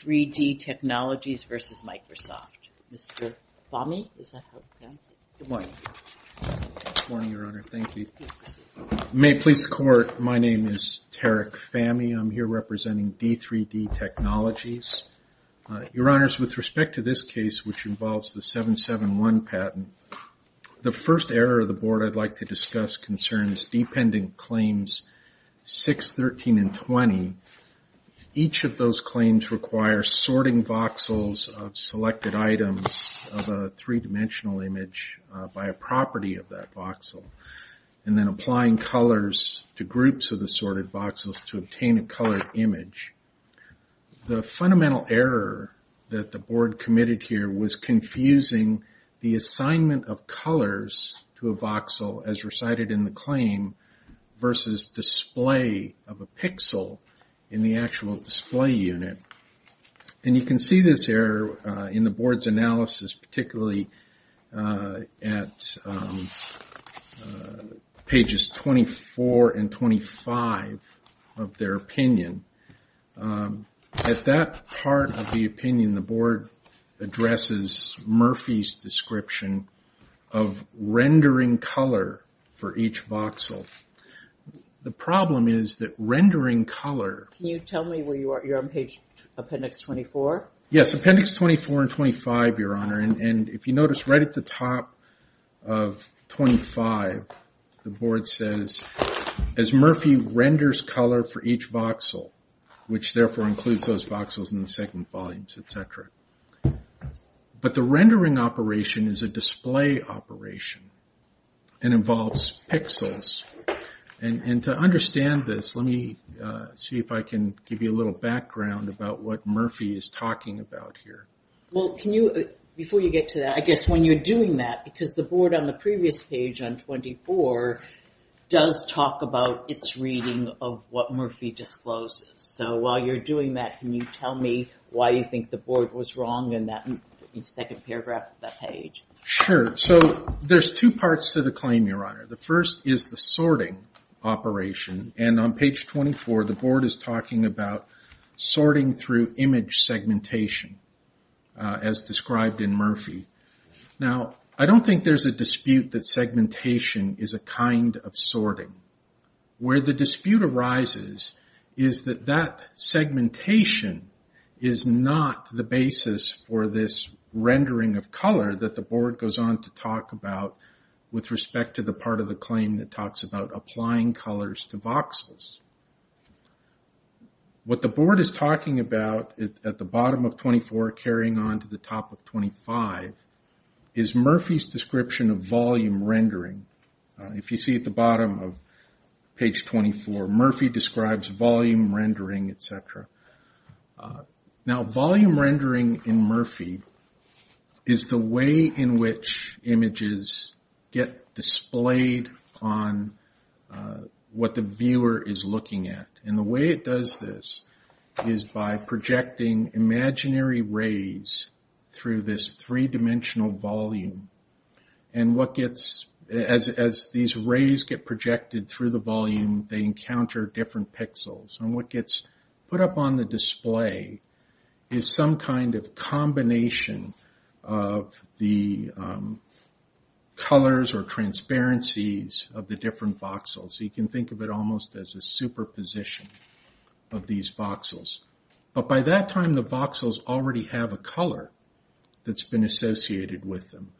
D3D Technologies, Inc. v. Microsoft Corporation, Inc. May it please the Court, my name is Tarek Fahmy. I'm here representing D3D Technologies. Your Honors, with respect to this case, which involves the 771 patent, the first error of this case concerns Dependent Claims 6, 13, and 20. Each of those claims requires sorting voxels of selected items of a three-dimensional image by a property of that voxel, and then applying colors to groups of the sorted voxels to obtain a colored image. The fundamental error that the Board committed here was confusing the assignment of colors to a voxel as recited in the claim versus display of a pixel in the actual display unit. And you can see this error in the Board's analysis, particularly at pages 24 and 25 of their opinion. At that point, the problem is that rendering color as Murphy renders color for each voxel, which therefore includes those voxels in the second volumes, etc. But the rendering operation is a display operation, and involves pixels. And to understand this, let me see if I can give you a little background about what Murphy is talking about here. Well, can you, before you get to that, I guess when you're doing that, because the Board on the previous page on 24 does talk about its reading of what Murphy discloses. So while you're doing that, can you tell me why you think the Board was wrong in that second paragraph of that page? Sure. So there's two parts to the claim, Your Honor. The first is the sorting operation. And on page 24, the Board is talking about sorting through image segmentation, as described in Murphy. Now, I don't think there's a dispute that segmentation is a kind of sorting. Where the dispute arises is that that segmentation is not the basis for this rendering of color that the Board goes on to talk about with respect to the part of the claim that talks about applying colors to voxels. What the Board is talking about at the bottom of 24, carrying on to the top of 25, is Murphy's description of volume rendering. If you see at the bottom of page 24, Murphy describes volume rendering, etc. Now, volume rendering in Murphy is the way in which images get displayed on what the viewer is looking at. And the way it does this is by projecting imaginary rays through this three-dimensional volume. And what gets, as these rays get projected through the volume, they encounter different pixels. And what gets put up on the display is some kind of combination of the colors or transparencies of the different voxels. You can think of it almost as a superposition of these voxels. But by that time, the voxels already have a color that's been associated with them.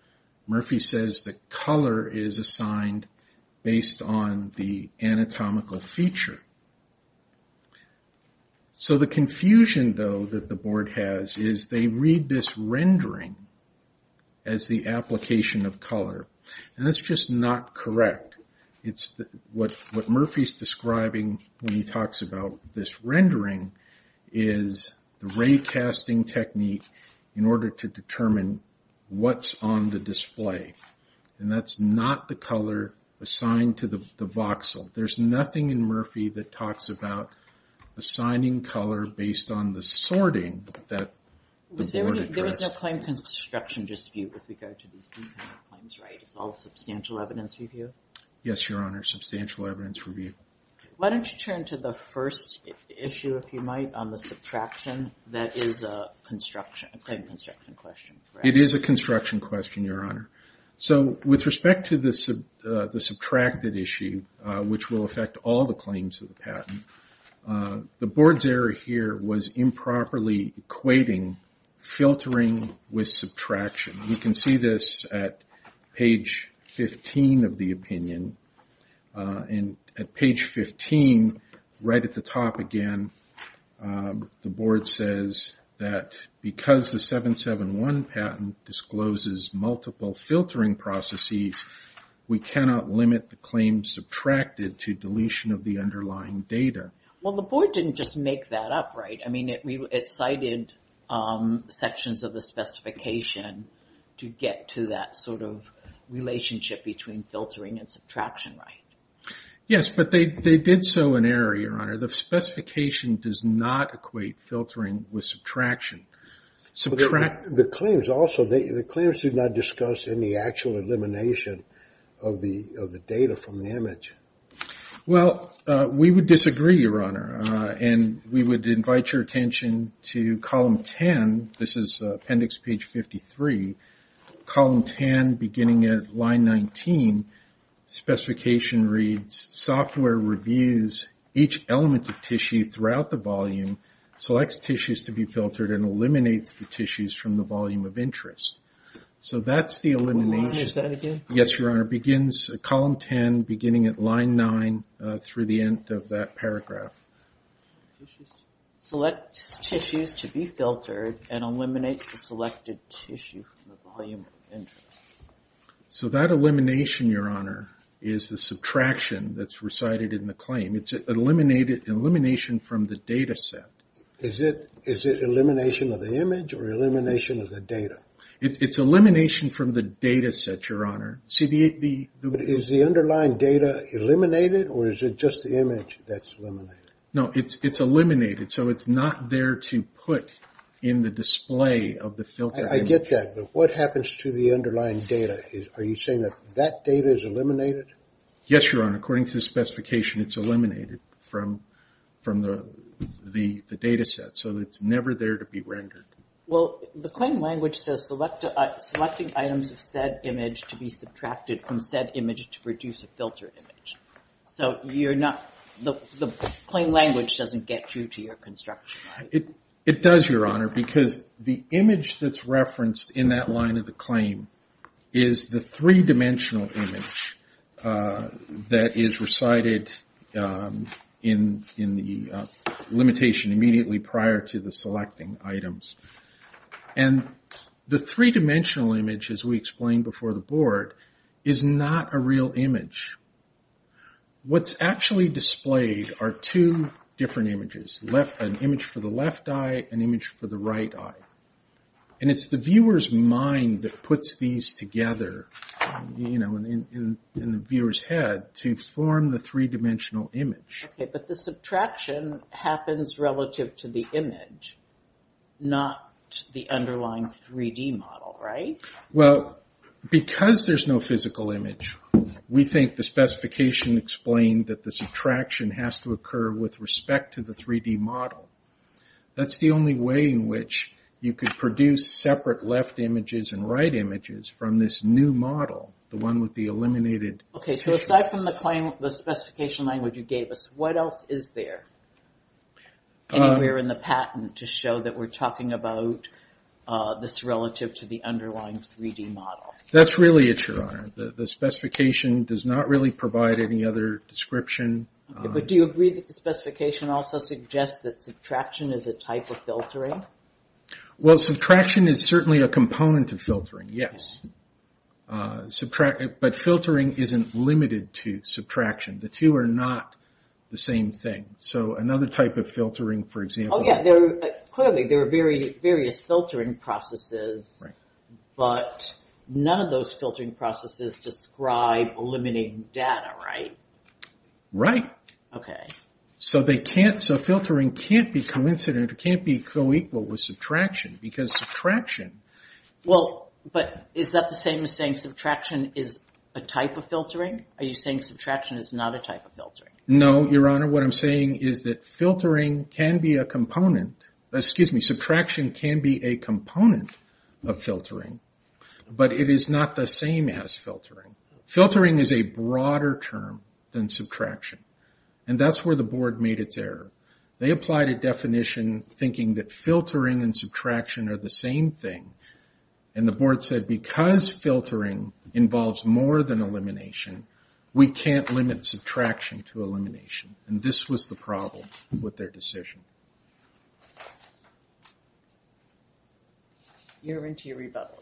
Murphy says that color is assigned based on the anatomical feature. So the confusion, though, that the Board has is they read this rendering as the application of color. And that's just not correct. What Murphy's describing when he talks about this is what's on the display. And that's not the color assigned to the voxel. There's nothing in Murphy that talks about assigning color based on the sorting that the Board addressed. There was no claim construction dispute with regard to these claims, right? It's all substantial evidence review? Yes, Your Honor. Substantial evidence review. Why don't you turn to the first issue, if you might, on the subtraction that is a construction question. It is a construction question, Your Honor. So with respect to the subtracted issue, which will affect all the claims of the patent, the Board's error here was improperly equating filtering with subtraction. You can see this at page 15 of the opinion. And at page 15, right at the top again, the Board says that because the 771 patent discloses multiple filtering processes, we cannot limit the claim subtracted to deletion of the underlying data. Well, the Board didn't just make that up, right? I mean, it cited sections of the specification to get to that sort of relationship between filtering and subtraction, right? Yes, but they did so in error, Your Honor. The specification does not equate filtering with subtraction. The claims also, the claims did not discuss any actual elimination of the data from the image. Well, we would disagree, Your Honor, and we would invite your attention to column 10. This is appendix page 53. Column 10, beginning at line 19, specification reads, software reviews each element of tissue throughout the volume, selects tissues to be filtered, and eliminates the tissues from the volume of interest. So that's the elimination. What line is that again? Yes, Your Honor. It begins at column 10, beginning at line 9, through the end of that paragraph. Selects tissues to be filtered and eliminates the selected tissue from the volume of interest. So that elimination, Your Honor, is the subtraction that's recited in the claim. It's an elimination from the data set. Is it elimination of the image or elimination of the data? It's elimination from the data set, Your Honor. Is the underlying data eliminated or is it just the image that's eliminated? No, it's eliminated. So it's not there to put in the display of the filtered image. I get that. But what happens to the underlying data? Are you saying that that data is eliminated? Yes, Your Honor. According to the specification, it's eliminated from the data set. So it's never there to be rendered. Well, the claim language says, selecting items of said image to be subtracted from said image to produce a filtered image. So the claim language doesn't get you to your construction, right? It does, Your Honor, because the image that's referenced in that line of the claim is the three-dimensional image that is recited in the limitation immediately prior to the selecting items. And the three-dimensional image, as we explained before the board, is not a real image. What's actually displayed are two different images, an image for the left eye, an image for the right eye. And it's the viewer's mind that puts these together in the viewer's head to form the three-dimensional image. Okay, but the subtraction happens relative to the image, not the underlying 3D model, right? Well, because there's no physical image, we think the specification explained that the subtraction has to occur with respect to the 3D model. That's the only way in which you could produce separate left images and right images from this new model, the one with the eliminated... Okay, so aside from the specification language you gave us, what else is there anywhere in the patent to show that we're talking about this relative to the underlying 3D model? That's really it, Your Honor. The specification does not really provide any other description. Okay, but do you agree that the specification also suggests that subtraction is a type of filtering? Well, subtraction is certainly a component of filtering, yes. But filtering isn't limited to subtraction. The two are not the same thing. So another type of filtering, for example... Oh yeah, clearly there are various filtering processes, but none of those filtering processes describe eliminating data, right? Right. Okay. So filtering can't be coincident, it can't be co-equal with subtraction, because subtraction... Well, but is that the same as saying subtraction is a type of filtering? Are you saying subtraction is not a type of filtering? No, Your Honor. What I'm saying is that filtering can be a component... Excuse me, subtraction can be a component of filtering, but it is not the same as filtering. Filtering is a broader term than subtraction, and that's where the board made its error. They applied a definition thinking that filtering and subtraction are the same thing, and the board said because filtering involves more than elimination, we can't limit subtraction to elimination. And this was the problem with their decision. You're into your rebuttal.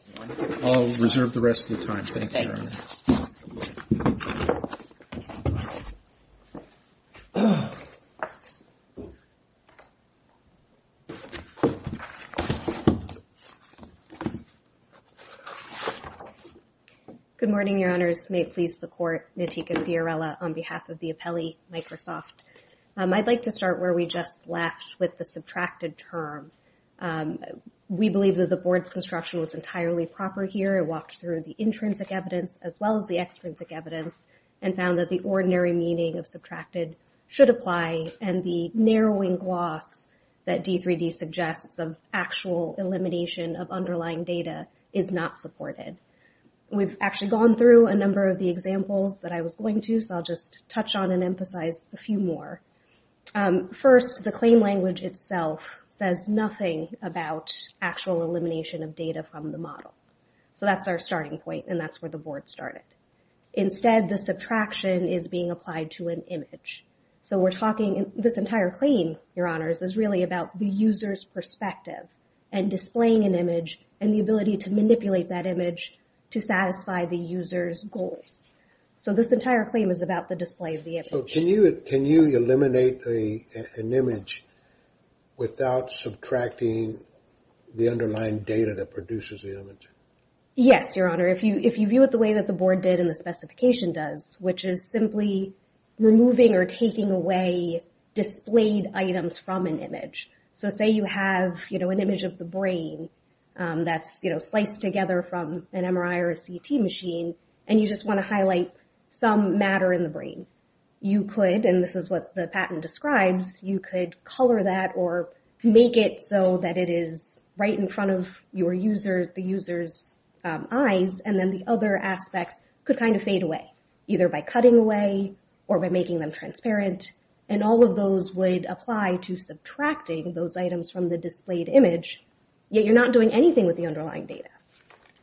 I'll reserve the rest of the time. Thank you, Your Honor. Good morning, Your Honors. May it please the Court. Nitika Fiorella on behalf of the Apelli Microsoft. I'd like to start where we just left with the subtracted term. We believe that the board's construction was entirely proper here. It walked through the intrinsic evidence as well as the extrinsic evidence, and found that the ordinary meaning of subtracted should apply, and the narrowing gloss that D3D suggests of actual elimination of underlying data is not supported. We've actually gone through a number of the examples that I was going to, so I'll just touch on and emphasize a few more. First, the claim language itself says nothing about actual elimination of data from the model. So that's our starting point, and that's where the board started. Instead, the subtraction is being applied to an image. So we're talking... This entire claim, Your Honor, is about the display of perspective, and displaying an image, and the ability to manipulate that image to satisfy the user's goals. So this entire claim is about the display of the image. Can you eliminate an image without subtracting the underlying data that produces the image? Yes, Your Honor. If you view it the way that the specification does, which is simply removing or taking away displayed items from an image. So say you have an image of the brain that's sliced together from an MRI or a CT machine, and you just want to highlight some matter in the brain. You could, and this is what the patent describes, you could color that or make it so that it is right in front of the user's eyes, and then the other aspects could kind of fade away, either by cutting away or by making them transparent. And all of those would apply to subtracting those items from the displayed image, yet you're not doing anything with the underlying data.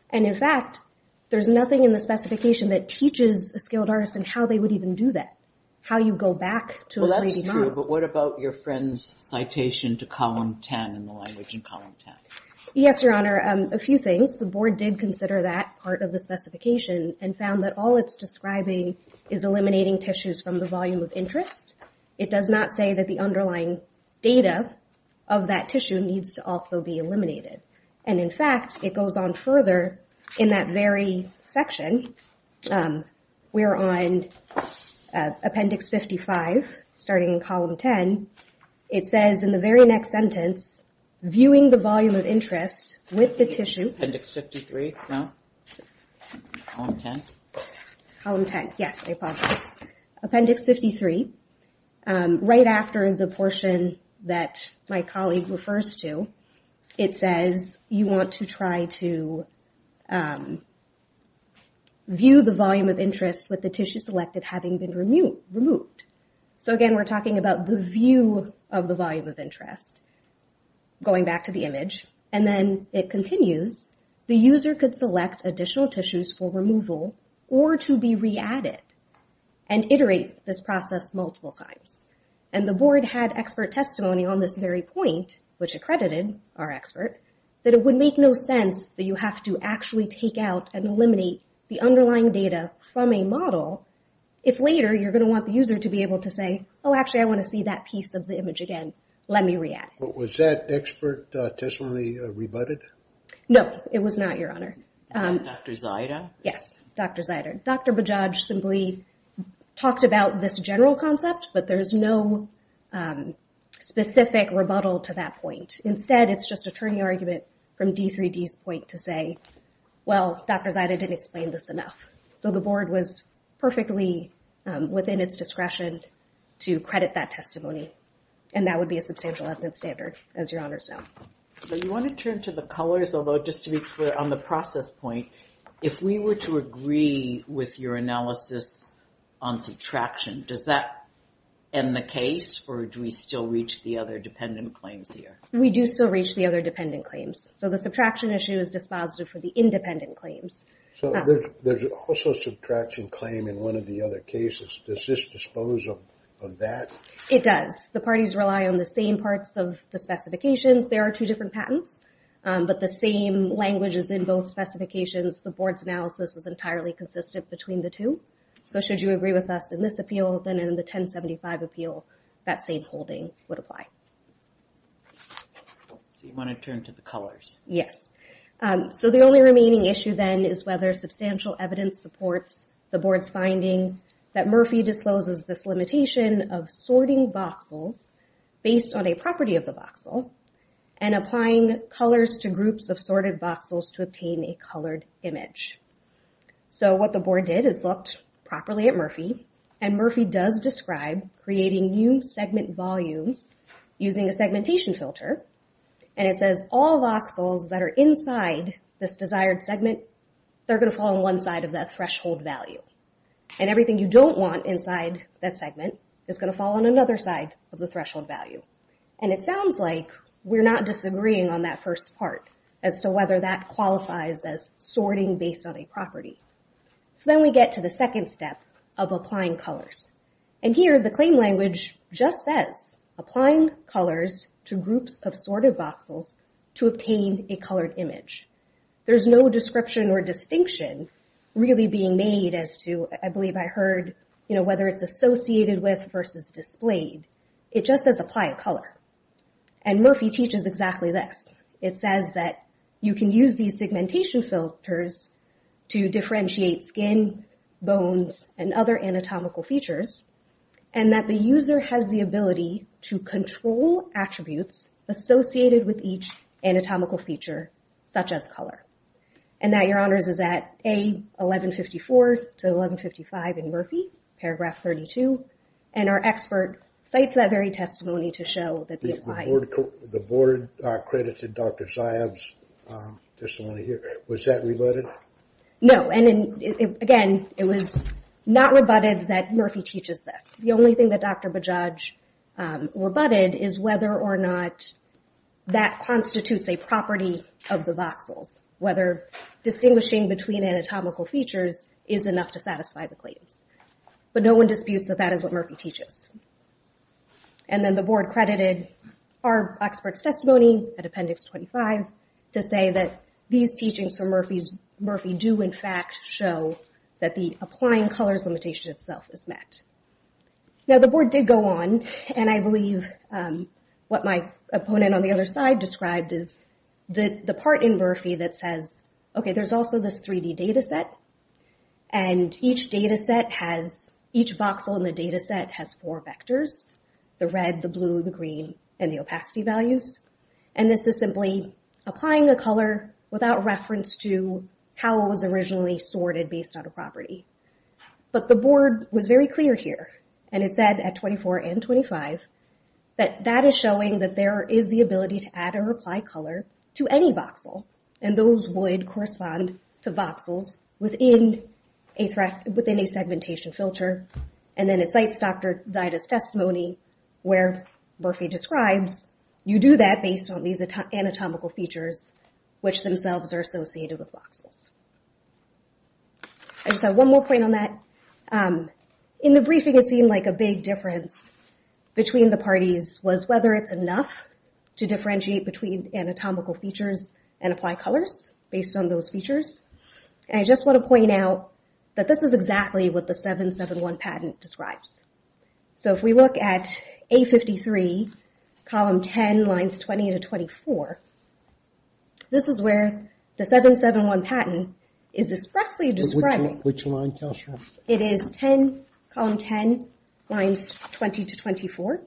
And in fact, there's nothing in the specification that teaches a skilled artist on how they would even do that, how you go back to a 3D model. But what about your friend's citation to column 10 in the language in column 10? Yes, Your Honor. A few things. The board did consider that part of the specification and found that all it's describing is eliminating tissues from the volume of interest. It does not say that the underlying data of that tissue needs to also be eliminated. And in fact, it goes on further in that very section, where on appendix 55, starting in column 10, it says in the very next sentence, viewing the volume of interest with the tissue. Appendix 53, no? Column 10? Column 10, yes, I apologize. Appendix 53, right after the portion that my colleague refers to, it says you want to try to view the volume of interest with the tissue selected having been removed. So again, we're talking about the view of the volume of interest. Going back to the image, and then it continues. The user could select additional tissues for removal or to be re-added and iterate this process multiple times. And the board had expert testimony on this very point, which was to actually take out and eliminate the underlying data from a model, if later you're going to want the user to be able to say, oh, actually I want to see that piece of the image again. Let me re-add. Was that expert testimony rebutted? No, it was not, Your Honor. Dr. Bajaj simply talked about this general concept, but there's no specific rebuttal to that point. Instead, it's just a turning argument from D3D's point to say, well, Dr. Zida didn't explain this enough. So the board was perfectly within its discretion to credit that testimony. And that would be a substantial evidence standard, as Your Honor's know. You want to turn to the colors, although just to be clear on the process point, if we were to agree with your analysis on subtraction, does that end the case, or do we still reach the other dependent claims here? We do still reach the other dependent claims. So the subtraction issue is dispositive for the independent claims. So there's also a subtraction claim in one of the other cases. Does this dispose of that? It does. The parties rely on the same parts of the specifications. There are two different patents. But the same language is in both specifications. The board's analysis is entirely consistent between the two. So should you agree with us in this appeal, then in the 1075 appeal, that same holding would apply. So you want to turn to the colors? Yes. So the only remaining issue then is whether substantial evidence supports the board's finding that Murphy discloses this limitation of sorting voxels based on a property of the voxel and applying colors to groups of sorted voxels to obtain a colored image. So what the board did is looked properly at Murphy, and Murphy does describe creating new segment volumes using a segmentation filter. And it says all voxels that are inside this desired segment, they're going to fall on one side of that threshold value. And everything you don't want inside that segment is going to fall on another side of the threshold value. And it sounds like we're not disagreeing on that first part as to whether that qualifies as sorting based on a property. So then we get to the second step of applying colors. And here the claim language just says applying colors to groups of sorted voxels to obtain a colored image. There's no description or distinction really being made as to, I believe I heard, you know, whether it's associated with versus displayed. It just says apply a color. And Murphy teaches exactly this. It says that you can use these segmentation filters to differentiate skin, bones, and other anatomical features, and that the user has the ability to control attributes associated with each anatomical feature, such as color. And that, Your Honors, is at A1154 to 1155 in Murphy, paragraph 32. And our expert cites that very testimony to show that... The board credited Dr. Zayab's Was that rebutted? No. And again, it was not rebutted that Murphy teaches this. The only thing that Dr. Bajaj rebutted is whether or not that constitutes a property of the voxels. Whether distinguishing between anatomical features is enough to satisfy the claims. But no one disputes that that is what Murphy teaches. And then the board credited our expert's testimony at appendix 25 to say that these teachings from Murphy do, in fact, show that the applying colors limitation itself is met. Now the board did go on, and I believe what my opponent on the other side described is the part in Murphy that says, okay, there's also this 3D data set, and each data set has... Each voxel in the data set has four vectors, the red, the blue, the green, and the opacity values. And this is simply applying a color without reference to how it was originally sorted based on a property. But the board was very clear here, and it said at 24 and 25, that that is showing that there is the ability to add or apply color to any voxel, and those would correspond to voxels within a segmentation filter. And then it cites Dr. Dida's testimony where Murphy describes, you do that based on these anatomical features which themselves are associated with voxels. I just have one more point on that. In the briefing, it seemed like a big difference between the parties was whether it's enough to differentiate between anatomical features and apply colors based on those features. And I just want to point out that this is exactly what the 771 patent describes. So if we look at A53, column 10, lines 20 to 24, this is where the 771 patent is expressly describing. It is 10, column 10, lines 20 to 24.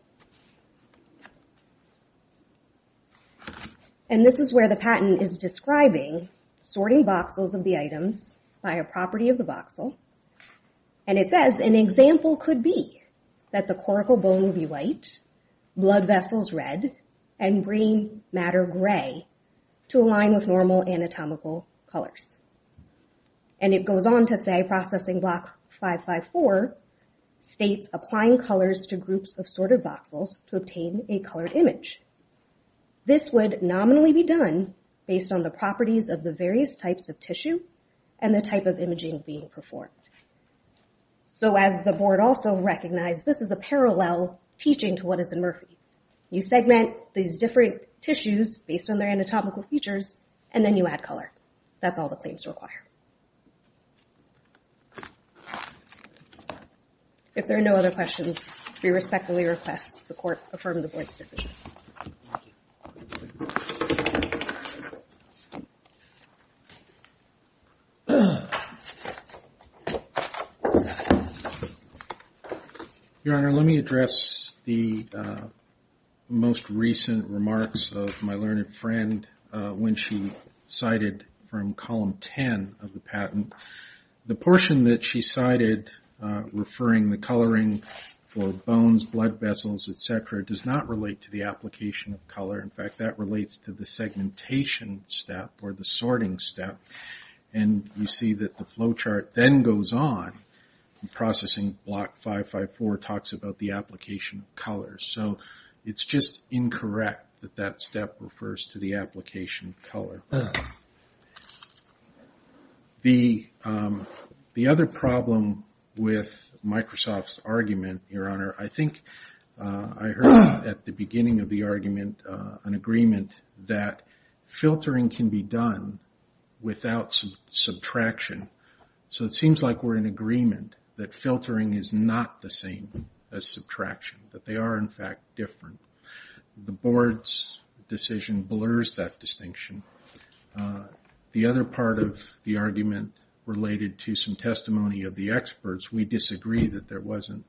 And this is where the patent is describing sorting voxels of the items by a property of the voxel. And it says an example could be that the coracal bone be white, blood vessels red, and brain matter gray to align with normal anatomical colors. And it goes on to say processing block 554 states applying colors to groups of sorted voxels to obtain a colored image. This would nominally be done based on the properties of the various types of tissue and the type of imaging being performed. So as the board also recognized, this is a parallel teaching to what is in Murphy. You segment these different tissues based on their anatomical features, and then you add color. That's all the claims require. If there are no other questions, we respectfully request the court affirm the board's decision. Your Honor, let me address the most recent remarks of my learned friend when she cited from column 10 of the patent. The portion that she cited referring the coloring for bones, blood vessels, etc. does not relate to the application of color. In fact, that relates to the segmentation step or the sorting step. And you see that the flow chart then goes on. Processing block 554 talks about the application of colors. So it's just incorrect that that step refers to the application of color. The other problem with this argument, an agreement that filtering can be done without subtraction. So it seems like we're in agreement that filtering is not the same as subtraction. That they are, in fact, different. The board's decision blurs that distinction. The other part of the argument related to some testimony of the experts, we disagree that there wasn't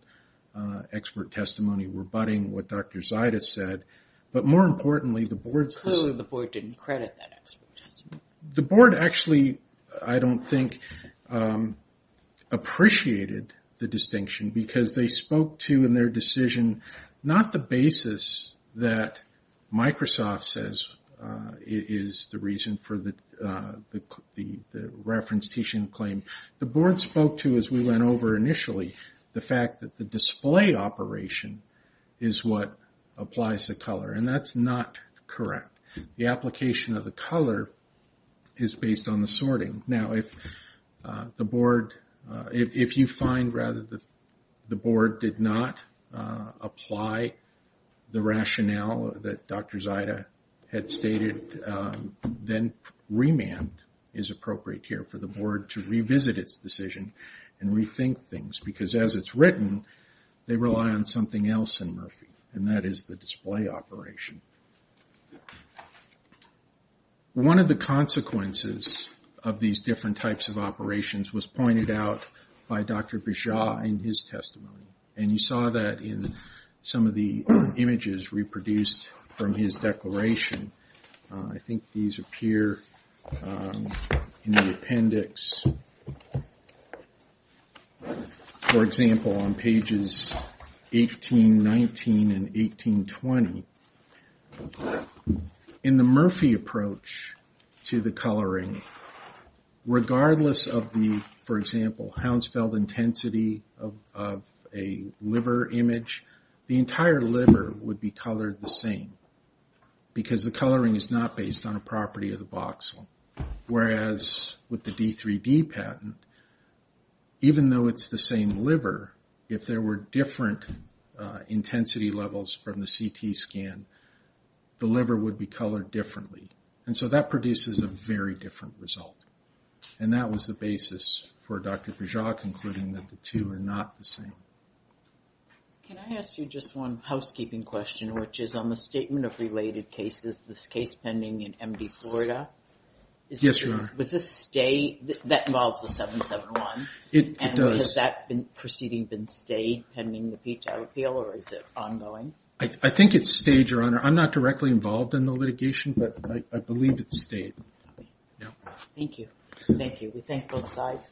expert testimony rebutting what Dr. Zaitis said. But more importantly, the board... Clearly the board didn't credit that expert testimony. The board actually, I don't think, appreciated the distinction because they spoke to in their decision not the basis that Microsoft says is the reason for the reference teaching claim. The board spoke to, as we went over initially, the fact that the display operation is what applies to color. And that's not correct. The application of the color is based on the sorting. Now if the board, if you find rather that the board did not apply the rationale that Dr. Zaitis had stated, then remand is appropriate here for the board to revisit its decision and rethink things. Because as it's written, they rely on something else in Murphy. And that is the display operation. One of the consequences of these different types of some of the images reproduced from his declaration, I think these appear in the appendix. For example, on pages 1819 and 1820. In the Murphy approach to the coloring, regardless of the, for example, Hounsfeld intensity of a liver image, the entire liver would be colored the same. Because the coloring is not based on a property of the voxel. Whereas with the D3D patent, even though it's the same liver, if there were different intensity levels from the CT scan, the liver would be colored differently. And so that produces a very different result. And that was the basis for Dr. Bourgeois concluding that the two are not the same. Can I ask you just one housekeeping question, which is on the statement of related cases, this case pending in MD Florida? Yes you are. Was this stay, that involves the 771? It does. Has that proceeding been stayed pending the appeal or is it ongoing? I think it's stayed, Your Honor. I'm not directly involved in the litigation, but I believe it's stayed. Thank you. We thank both sides.